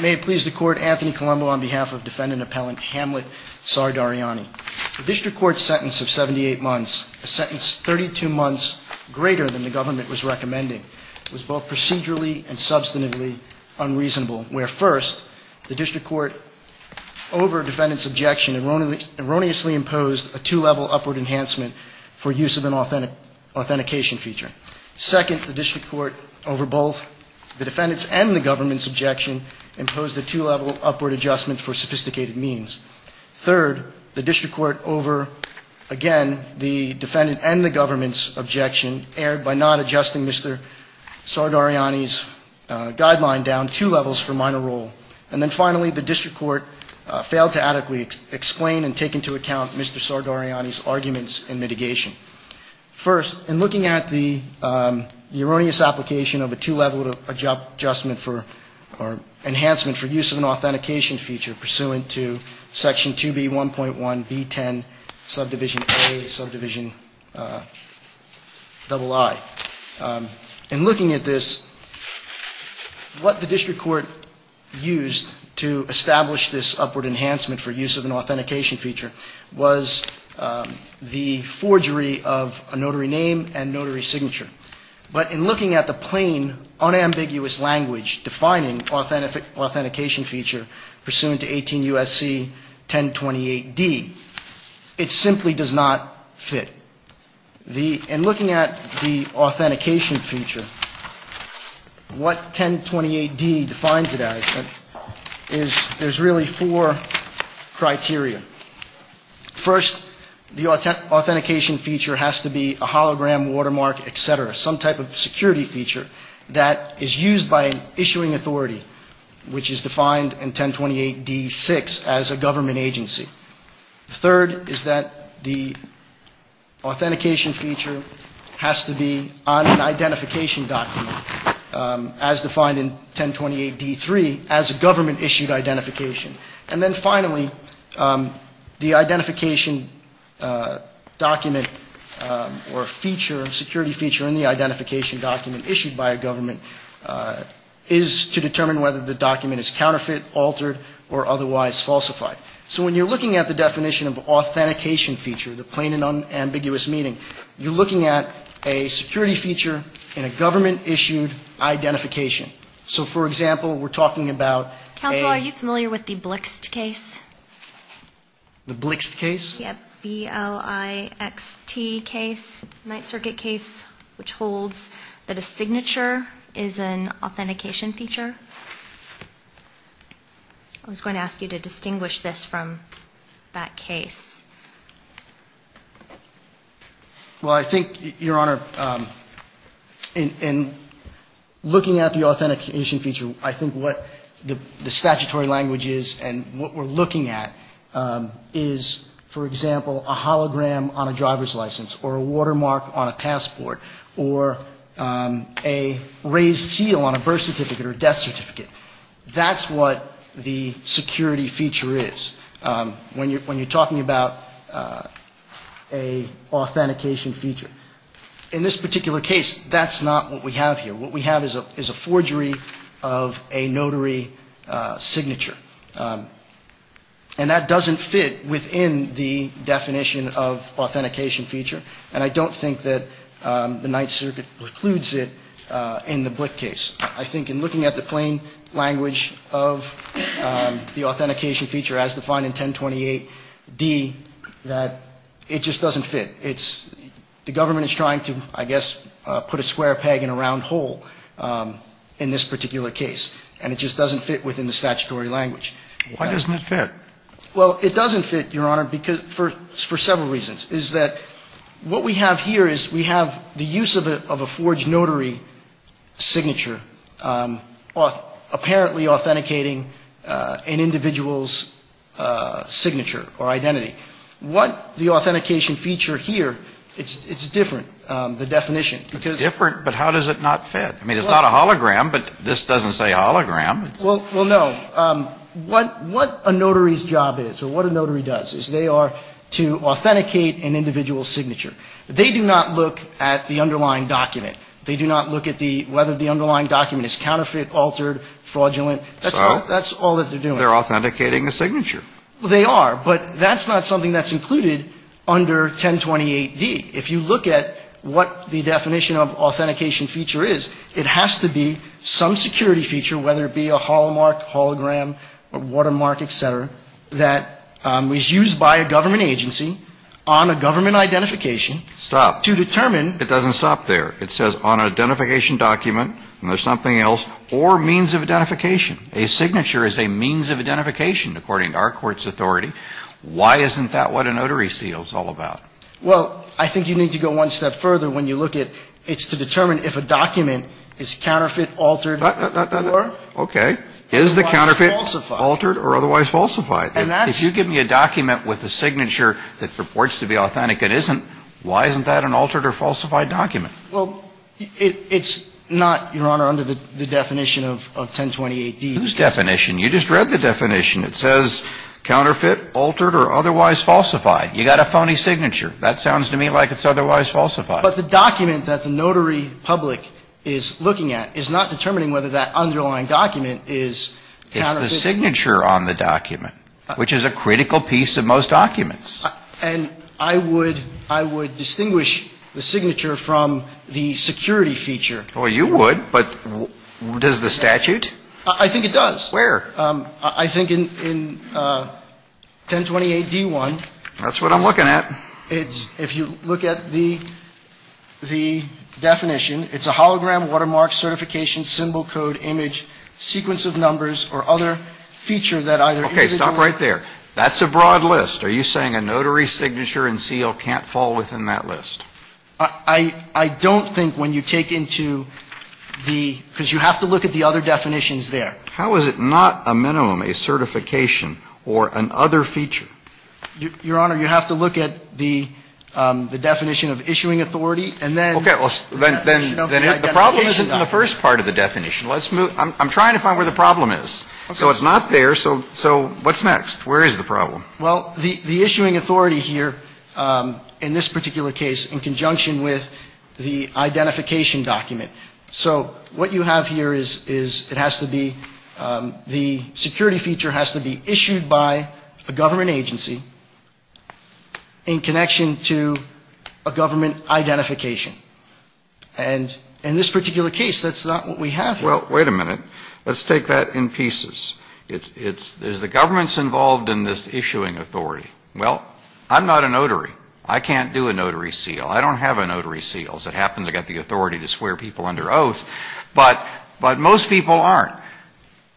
May it please the court, Anthony Colombo on behalf of defendant appellant Hamlet Sardariani. The district court's sentence of 78 months, a sentence 32 months greater than the government was recommending, was both procedurally and substantively unreasonable. Where first, the district court, over defendant's objection, erroneously imposed a two-level upward enhancement for use of an authentication feature. Second, the district court, over both the defendant's and the government's objection, imposed a two-level upward adjustment for sophisticated means. Third, the district court, over, again, the defendant and the government's objection, erred by not adjusting Mr. Sardariani's guideline down two levels for minor role. And then finally, the district court failed to adequately explain and take into account Mr. Sardariani's arguments in mitigation. First, in looking at the erroneous application of a two-level adjustment for, or enhancement for use of an authentication feature pursuant to section 2B1.1B10, subdivision A, subdivision double I. In looking at this, what the district court used to establish this upward enhancement for use of an authentication feature was the forgery of a notary name and notary signature. But in looking at the plain, unambiguous language defining authentication feature pursuant to 18 U.S.C. 1028D, it simply does not fit. In looking at the authentication feature, what 1028D defines it as is there's really four criteria. First, the authentication feature has to be a hologram, watermark, et cetera, some type of security feature that is used by an issuing authority, which is defined in 1028D6 as a government agency. Third is that the authentication feature has to be on an identification document, as defined in 1028D3, as a government-issued identification. And then finally, the identification document or feature, security feature in the identification document issued by a government is to determine whether the document is counterfeit, altered, or otherwise falsified. So when you're looking at the definition of authentication feature, the plain and unambiguous meaning, you're looking at a security feature in a government-issued identification. So, for example, we're talking about a... Counsel, are you familiar with the Blixt case? The Blixt case? Yep, B-L-I-X-T case, Ninth Circuit case, which holds that a signature is an authentication feature. I was going to ask you to distinguish this from that case. Well, I think, Your Honor, in looking at the authentication feature, I think what the statutory language is and what we're looking at is, for example, a hologram on a driver's license, or a watermark on a passport, or a raised seal on a birth certificate or death certificate. That's what the security feature is when you're talking about an authentication feature. In this particular case, that's not what we have here. What we have is a forgery of a notary signature. And that doesn't fit within the definition of authentication feature, and I don't think that the Ninth Circuit precludes it in the Blixt case. I think in looking at the plain language of the authentication feature as defined in 1028d, that it just doesn't fit. The government is trying to, I guess, put a square peg in a round hole in this particular case, and it just doesn't fit within the statutory language. Why doesn't it fit? Well, it doesn't fit, Your Honor, for several reasons. Is that what we have here is we have the use of a forged notary signature, apparently authenticating an individual's signature or identity. What the authentication feature here, it's different, the definition. It's different, but how does it not fit? I mean, it's not a hologram, but this doesn't say hologram. Well, no. What a notary's job is or what a notary does is they are to authenticate an individual's signature. They do not look at the underlying document. They do not look at whether the underlying document is counterfeit, altered, fraudulent. That's all that they're doing. Well, they are, but that's not something that's included under 1028d. If you look at what the definition of authentication feature is, it has to be some security feature, whether it be a holomark, hologram, watermark, et cetera, that is used by a government agency on a government identification to determine. Stop. That's not what a notary seal is all about. Well, I think you need to go one step further when you look at it's to determine if a document is counterfeit, altered, or. Okay. Is the counterfeit altered or otherwise falsified? And that's. If you give me a document with a signature that purports to be authentic, it isn't, why isn't that an altered or falsified document? Well, it's not, Your Honor, under the definition of 1028d. Whose definition? You just read the definition. It says counterfeit, altered, or otherwise falsified. You got a phony signature. That sounds to me like it's otherwise falsified. But the document that the notary public is looking at is not determining whether that underlying document is. It's the signature on the document, which is a critical piece of most documents. And I would, I would distinguish the signature from the security feature. Well, you would, but does the statute? I think it does. Where? I think in 1028d-1. That's what I'm looking at. It's, if you look at the definition, it's a hologram, watermark, certification, symbol, code, image, sequence of numbers, or other feature that either. Okay. Stop right there. That's a broad list. Are you saying a notary signature and seal can't fall within that list? I don't think when you take into the, because you have to look at the other definitions there. How is it not a minimum, a certification, or an other feature? Your Honor, you have to look at the definition of issuing authority, and then. Okay. The problem isn't in the first part of the definition. Let's move. I'm trying to find where the problem is. So it's not there. So what's next? Where is the problem? Well, the issuing authority here, in this particular case, in conjunction with the identification document. So what you have here is it has to be, the security feature has to be issued by a government agency in connection to a government identification. And in this particular case, that's not what we have here. Well, wait a minute. Let's take that in pieces. Is the government involved in this issuing authority? Well, I'm not a notary. I can't do a notary seal. I don't have a notary seal. I happen to have the authority to swear people under oath. But most people aren't.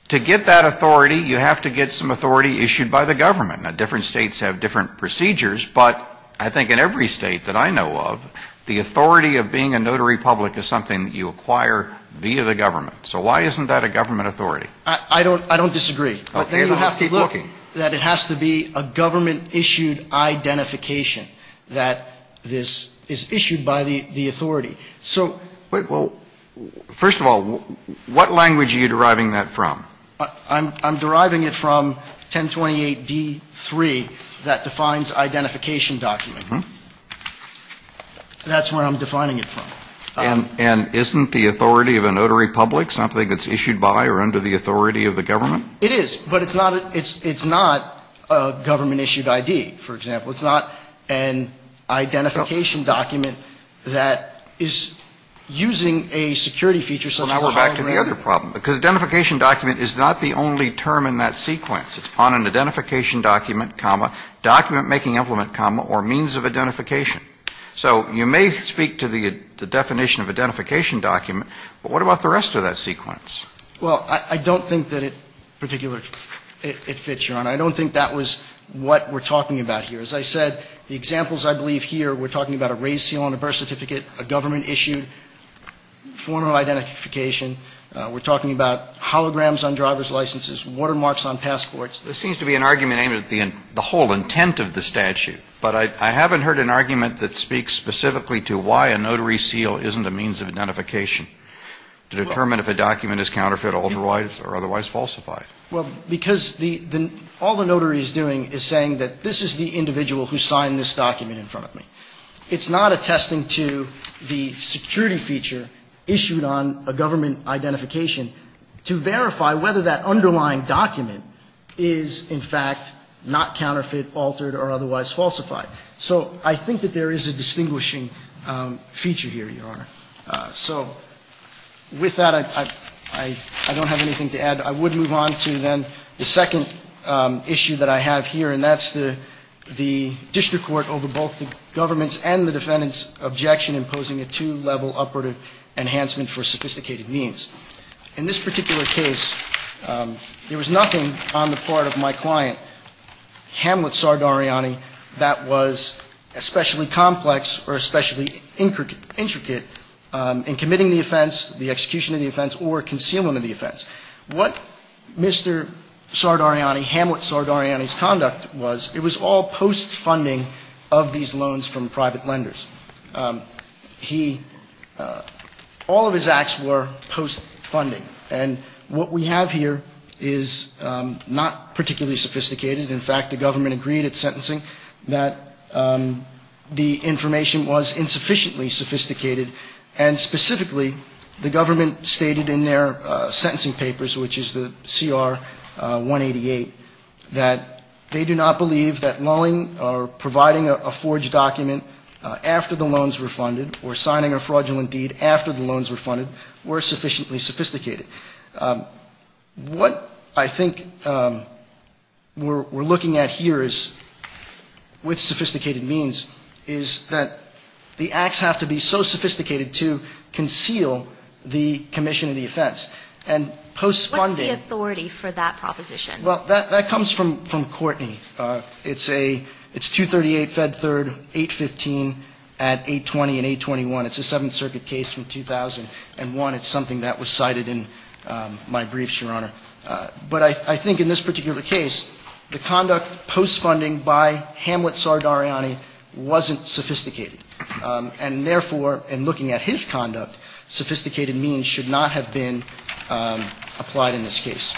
To get that authority, you have to get some authority issued by the government. Now, different States have different procedures, but I think in every State that I know of, the authority of being a notary public is something that you acquire via the government. So why isn't that a government authority? I don't disagree. But then you have to look that it has to be a government-issued identification that this is issued by the authority. So well, first of all, what language are you deriving that from? I'm deriving it from 1028d3 that defines identification document. That's where I'm defining it from. And isn't the authority of a notary public something that's issued by or under the authority of the government? It is. But it's not a government-issued ID, for example. It's not an identification document that is using a security feature such as a hologram. Well, now we're back to the other problem. Because identification document is not the only term in that sequence. It's on an identification document, comma, document-making implement, comma, or means of identification. So you may speak to the definition of identification document. But what about the rest of that sequence? Well, I don't think that it particularly fits, Your Honor. I don't think that was what we're talking about here. As I said, the examples I believe here, we're talking about a raised seal on a birth certificate, a government-issued formal identification. We're talking about holograms on driver's licenses, watermarks on passports. There seems to be an argument aimed at the whole intent of the statute. But I haven't heard an argument that speaks specifically to why a notary seal isn't a means of identification, to determine if a document is counterfeit, altered, or otherwise falsified. Well, because all the notary is doing is saying that this is the individual who signed this document in front of me. It's not attesting to the security feature issued on a government identification to verify whether that underlying document is, in fact, not counterfeit, altered, or otherwise falsified. So I think that there is a distinguishing feature here, Your Honor. So with that, I don't have anything to add. I would move on to then the second issue that I have here, and that's the district court over both the government's and the defendant's objection imposing a two-level upward enhancement for sophisticated means. In this particular case, there was nothing on the part of my client, Hamlet Sardari Ani, that was especially complex or especially intricate in committing the offense, the execution of the offense, or concealment of the offense. What Mr. Sardari Ani, Hamlet Sardari Ani's conduct was, it was all post-funding of these loans from private lenders. He – all of his acts were post-funding. And what we have here is not particularly sophisticated. In fact, the government agreed at sentencing that the information was insufficiently sophisticated. And specifically, the government stated in their sentencing papers, which is the CR 188, that they do not believe that lolling or providing a forged document after the loans were funded or signing a fraudulent deed after the loans were funded were sufficiently sophisticated. What I think we're looking at here is, with sophisticated means, is that the acts have to be so sophisticated to conceal the commission of the offense. And post-funding – What's the authority for that proposition? Well, that comes from Courtney. It's a – it's 238 Fed Third, 815 at 820 and 821. It's a Seventh Circuit case from 2001. And one, it's something that was cited in my briefs, Your Honor. But I think in this particular case, the conduct post-funding by Hamlet Tsardariani wasn't sophisticated. And therefore, in looking at his conduct, sophisticated means should not have been applied in this case.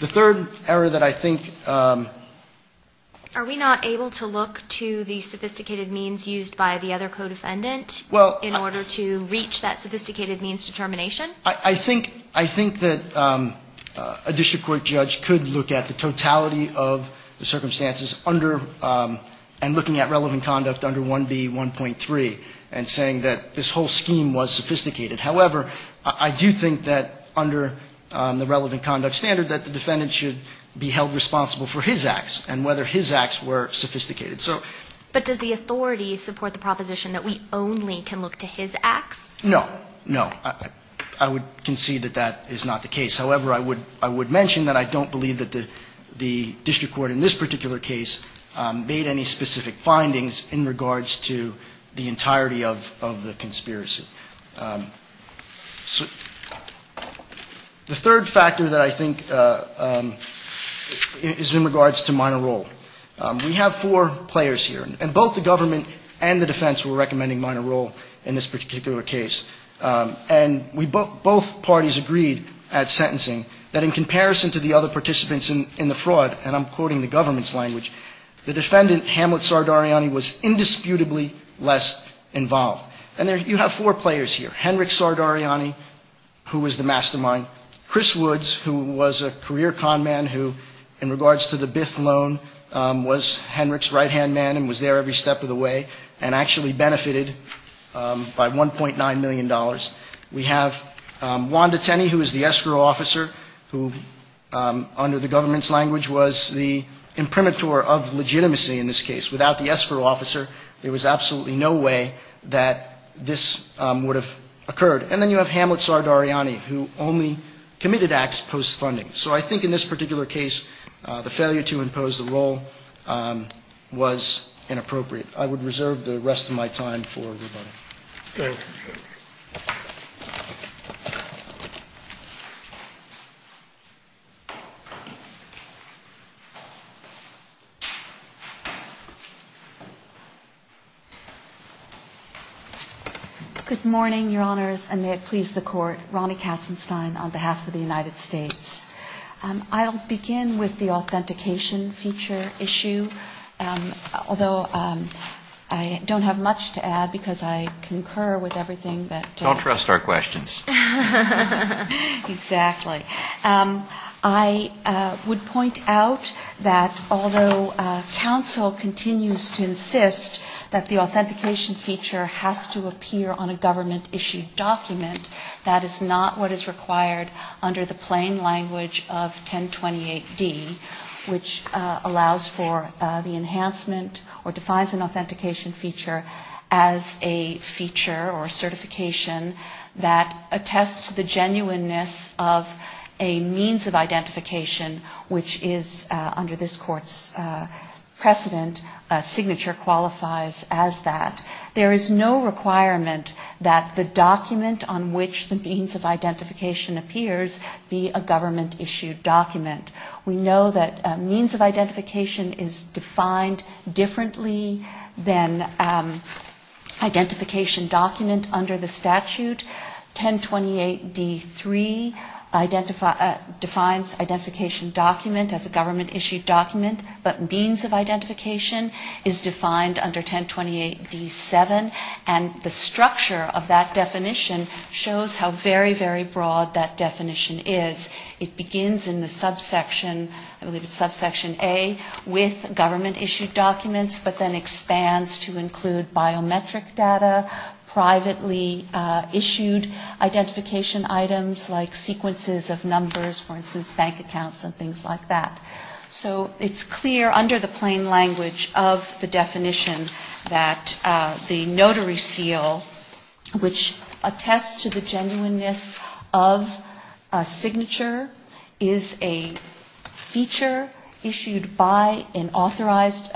The third error that I think – Are we not able to look to the sophisticated means used by the other co-defendant in order to reach that sophisticated means determination? I think – I think that a district court judge could look at the totality of the circumstances under – and looking at relevant conduct under 1B1.3 and saying that this whole scheme was sophisticated. However, I do think that under the relevant conduct standard, that the defendant should be held responsible for his acts and whether his acts were sophisticated. So – But does the authority support the proposition that we only can look to his acts? No. No. I would concede that that is not the case. However, I would mention that I don't believe that the district court in this particular case made any specific findings in regards to the entirety of the conspiracy. The third factor that I think is in regards to minor role. We have four players here. And both the government and the defense were recommending minor role in this particular case. And we both – both parties agreed at sentencing that in comparison to the other participants in the fraud, and I'm quoting the government's language, the defendant Hamlet Sardariani was indisputably less involved. And there – you have four players here. Henrik Sardariani, who was the mastermind. Chris Woods, who was a career con man who, in regards to the Bith loan, was Henrik's right-hand man and was there every step of the way and actually benefited by $1.9 million. We have Wanda Tenney, who is the escrow officer, who under the government's language was the imprimatur of legitimacy in this case. Without the escrow officer, there was absolutely no way that this would have occurred. And then you have Hamlet Sardariani, who only committed acts post-funding. So I think in this particular case, the failure to impose the role was inappropriate. I would reserve the rest of my time for rebuttal. Thank you. Good morning, Your Honors, and may it please the Court. Ronnie Katzenstein on behalf of the United States. I'll begin with the authentication feature issue, although I don't have much to add because I concur with everything that... Don't trust our questions. Exactly. I would point out that although counsel continues to insist that the authentication feature has to appear on a government-issued document, that is not what is required under the plain language of 1028D, which allows for the enhancement or defines an authentication feature or certification that attests to the genuineness of a means of identification, which is under this Court's precedent, a signature qualifies as that. There is no requirement that the document on which the means of identification appears be a government-issued document. We know that means of identification is defined differently than identification document under the statute. 1028D-3 defines identification document as a government-issued document, but means of identification is defined under 1028D-7, and the structure of that definition shows how very, very broad that definition is. It begins in the subsection, I believe it's subsection A, with government-issued documents, but then expands to include biometric data, privately issued identification items like sequences of numbers, for instance, bank accounts and things like that. So it's clear under the plain language of the definition that the notary seal, which attests to the genuineness of a signature, is a feature issued by an authorized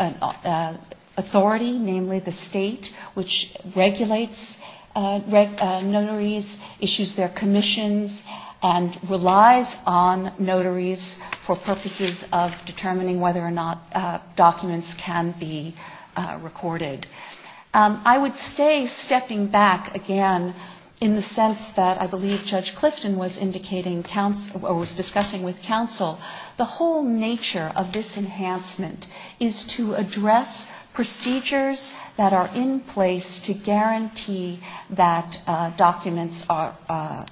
authority, namely the state, which regulates notaries, issues their commissions, and relies on notaries for purposes of determining whether or not documents can be recorded. I would stay stepping back again in the sense that I believe Judge Clifton was indicating, or was discussing with counsel, the whole nature of this enhancement is to address procedures that are in place to guarantee that documents are,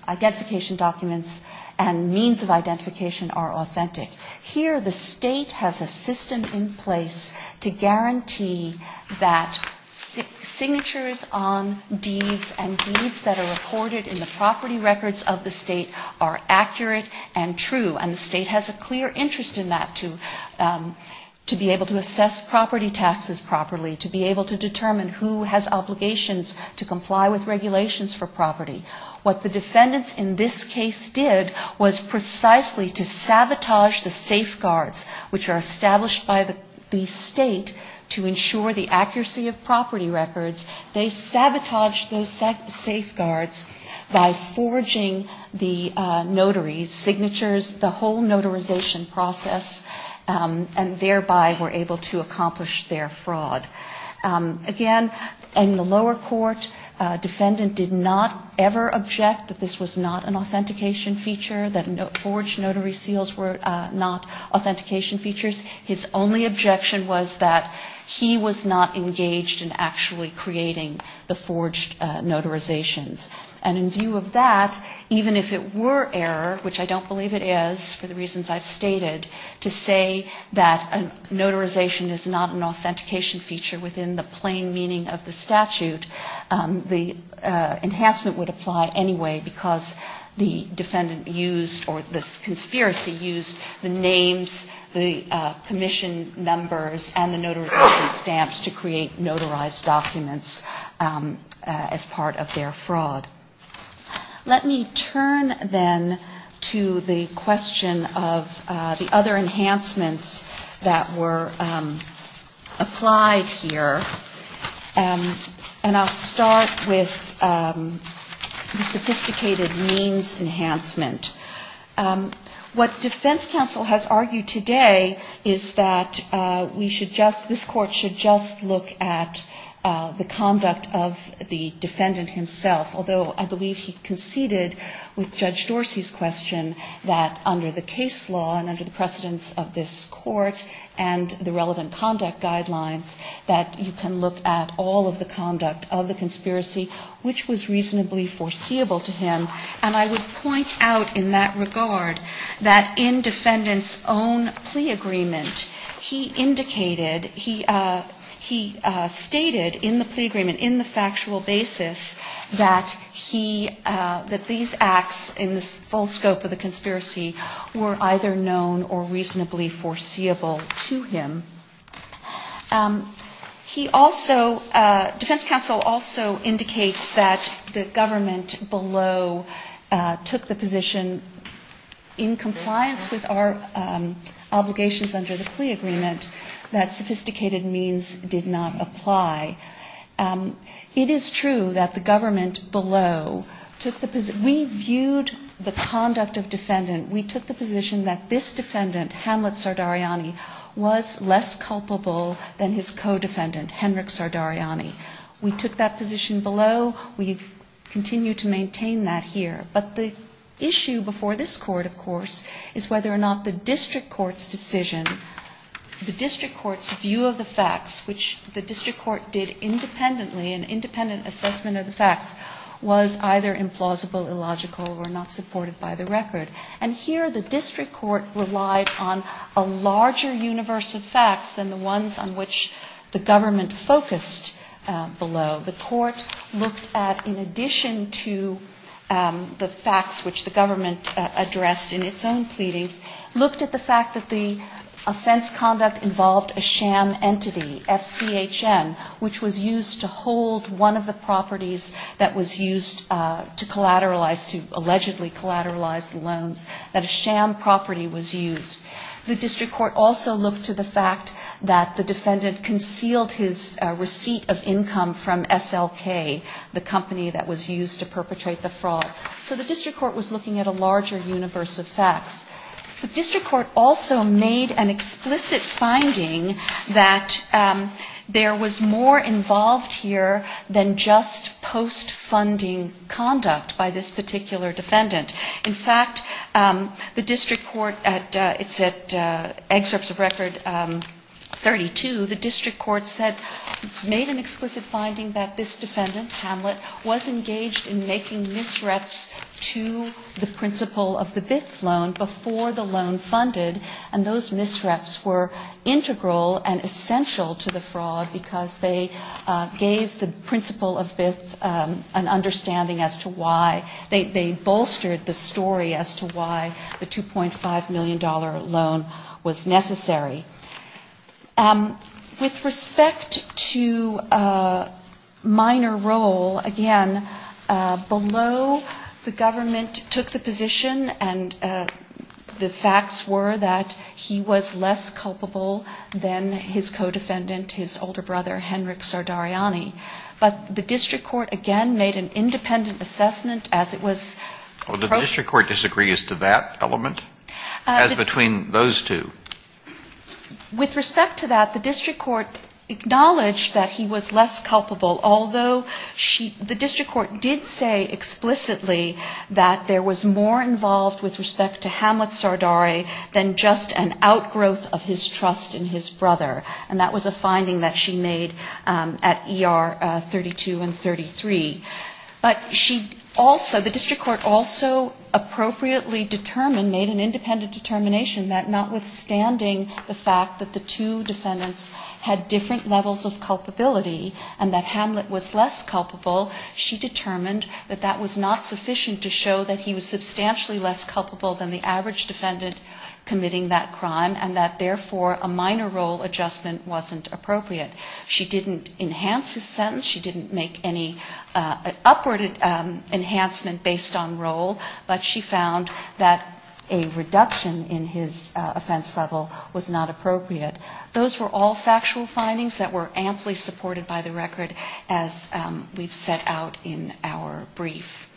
identification documents and means of identification are authentic. Here the state has a system in place to guarantee that signatures on deeds and deeds that are recorded in the property records of the state are accurate and true, and the state has a clear interest in that, to be able to assess property taxes properly, to be able to determine who has obligations to comply with regulations for property. What the defendants in this case did was precisely to sabotage the safeguards which are established by the state to ensure the accuracy of property records. They sabotaged those safeguards by forging the notary's signatures, the whole notarization process, and thereby were able to accomplish their fraud. Again, in the lower court, defendant did not ever object that this was not an authentication feature, that forged notary seals were not authentication features. His only objection was that he was not engaged in actually creating the forged notarizations. And in view of that, even if it were error, which I don't believe it is for the plain meaning of the statute, the enhancement would apply anyway, because the defendant used or the conspiracy used the names, the commission members, and the notarization stamps to create notarized documents as part of their fraud. Let me turn, then, to the question of the other enhancements that were applied here, and I'll start with the sophisticated means enhancement. What defense counsel has argued today is that we should just, this Court should just look at the conduct of the defendant himself, although I believe he conceded with Judge Dorsey's question that under the case law and under the precedence of this Court and the relevant conduct guidelines that you can look at all of the conduct of the conspiracy, which was reasonably foreseeable to him. And I would point out in that regard that in defendant's own plea agreement, he indicated, he stated in the plea agreement, in the factual basis, that he, that these acts in the full scope of the conspiracy were either known or reasonable or reasonably foreseeable to him. He also, defense counsel also indicates that the government below took the position in compliance with our obligations under the plea agreement that sophisticated means did not apply. It is true that the government below took the, we viewed the conduct of defendant, we took the position that this defendant, Hamlet Sardariani, was less culpable than his co-defendant, Henrik Sardariani. We took that position below, we continue to maintain that here. But the issue before this Court, of course, is whether or not the district court's decision, the district court's view of the facts, which the district court did and here the district court relied on a larger universe of facts than the ones on which the government focused below. The court looked at, in addition to the facts which the government addressed in its own pleadings, looked at the fact that the offense conduct involved a sham entity, FCHM, which was used to hold one of the properties that was used to collateralize to allegedly collateralize the loans, that a sham property was used. The district court also looked to the fact that the defendant concealed his receipt of income from SLK, the company that was used to perpetrate the fraud. So the district court was looking at a larger universe of facts. The district court also made an explicit finding that there was more involved here than just post-funding conduct by this particular defendant. In fact, the district court, it's at excerpts of Record 32, the district court said, made an explicit finding that this defendant, Hamlet, was engaged in making a BIF loan before the loan funded, and those misreps were integral and essential to the fraud because they gave the principle of BIF an understanding as to why they bolstered the story as to why the $2.5 million loan was necessary. With respect to minor role, again, below the government took the position and the facts were that he was less culpable than his co-defendant, his older brother, Henrik Sardariani. But the district court, again, made an independent assessment as it was. Well, did the district court disagree as to that element, as between those two? With respect to that, the district court acknowledged that he was less culpable, although the district court did say explicitly that there was more involved with respect to Hamlet Sardari than just an outgrowth of his trust in his brother. And that was a finding that she made at ER 32 and 33. But she also, the district court also appropriately determined, made an independent determination that notwithstanding the fact that the two defendants had different levels of culpability and that Hamlet was less culpable, she determined that that was not sufficient to show that he was substantially less culpable than the average defendant committing that crime and that, therefore, a minor role adjustment wasn't appropriate. She didn't enhance his sentence. She didn't make any upward enhancement based on role, but she found that a reduction in his offense level was not appropriate. Those were all factual findings that were amply supported by the record as we've set out in our brief.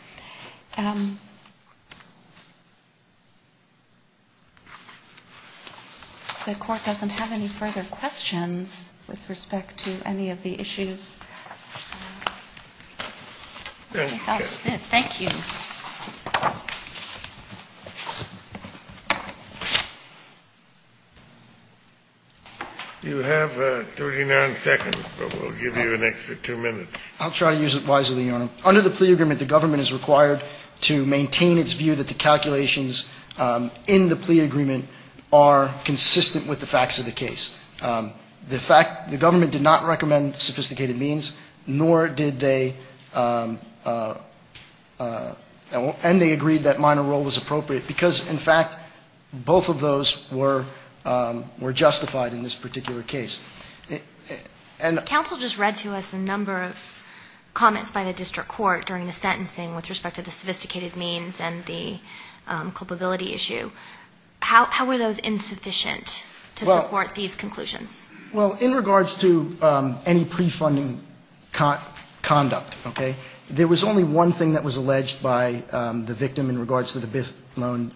The court doesn't have any further questions with respect to any of the issues. Thank you. You have 39 seconds, but we'll give you an extra two minutes. I'll try to use it wisely, Your Honor. Under the plea agreement, the government is required to maintain its view that the calculations in the plea agreement are consistent with the facts of the case. The fact, the government did not recommend sophisticated means, nor did they, and they agreed that minor role was appropriate, because, in fact, both of those were justified in this particular case. Counsel just read to us a number of comments by the district court during the sentencing with respect to the sophisticated means and the culpability issue. How were those insufficient to support these conclusions? Well, in regards to any prefunding conduct, okay, there was only one thing that was alleged by the victim in regards to the Bith loan,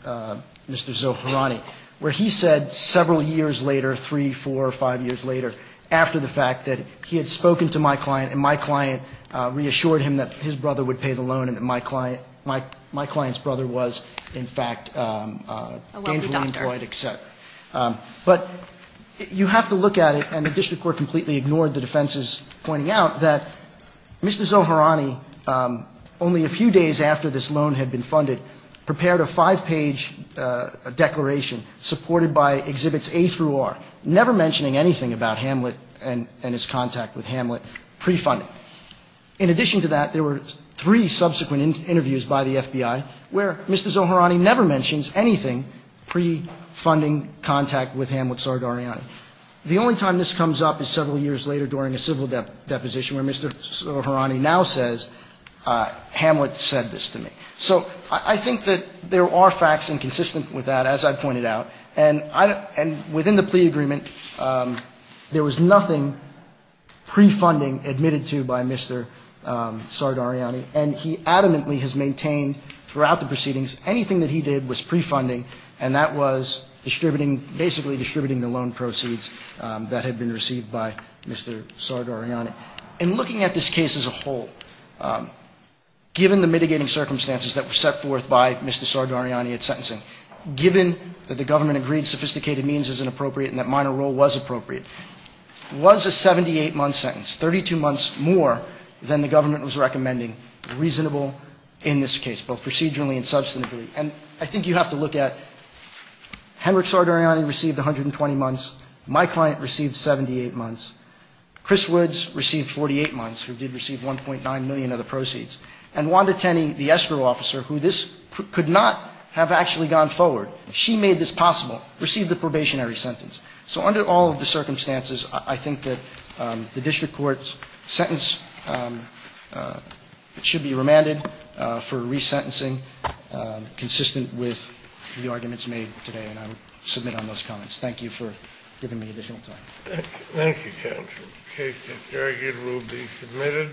Mr. Zohrani, where he said several years later, three, four, five years later, after the fact, that he had spoken to my client and my client reassured him that his brother would pay the loan and that my client's brother was, in fact, gainfully employed, et cetera. But you have to look at it, and the district court completely ignored the defenses pointing out that Mr. Zohrani, only a few days after this loan had been funded, prepared a five-page declaration supported by Exhibits A through R, never mentioning anything about Hamlet and his contact with Hamlet prefunding. In addition to that, there were three subsequent interviews by the FBI where Mr. Zohrani never mentions anything prefunding contact with Hamlet Sardariani. The only time this comes up is several years later during a civil deposition where Mr. Zohrani now says, Hamlet said this to me. So I think that there are facts inconsistent with that, as I pointed out. And within the plea agreement, there was nothing prefunding admitted to by Mr. Sardariani, and he adamantly has maintained throughout the proceedings anything that he did was prefunding, and that was distributing, basically distributing the loan proceeds that had been received by Mr. Sardariani. And looking at this case as a whole, given the mitigating circumstances that were set forth by Mr. Sardariani at sentencing, given that the reasonable in this case, both procedurally and substantively. And I think you have to look at, Henrik Sardariani received 120 months, my client received 78 months, Chris Woods received 48 months, who did receive 1.9 million of the proceeds, and Wanda Tenney, the escrow officer, who this could not have actually gone forward, she made this possible, received the probationary sentence. So under all of the circumstances, I think that the district court's sentence should be remanded for resentencing, consistent with the arguments made today, and I will submit on those comments. Thank you for giving me additional time. Thank you, counsel. The case is argued and will be submitted.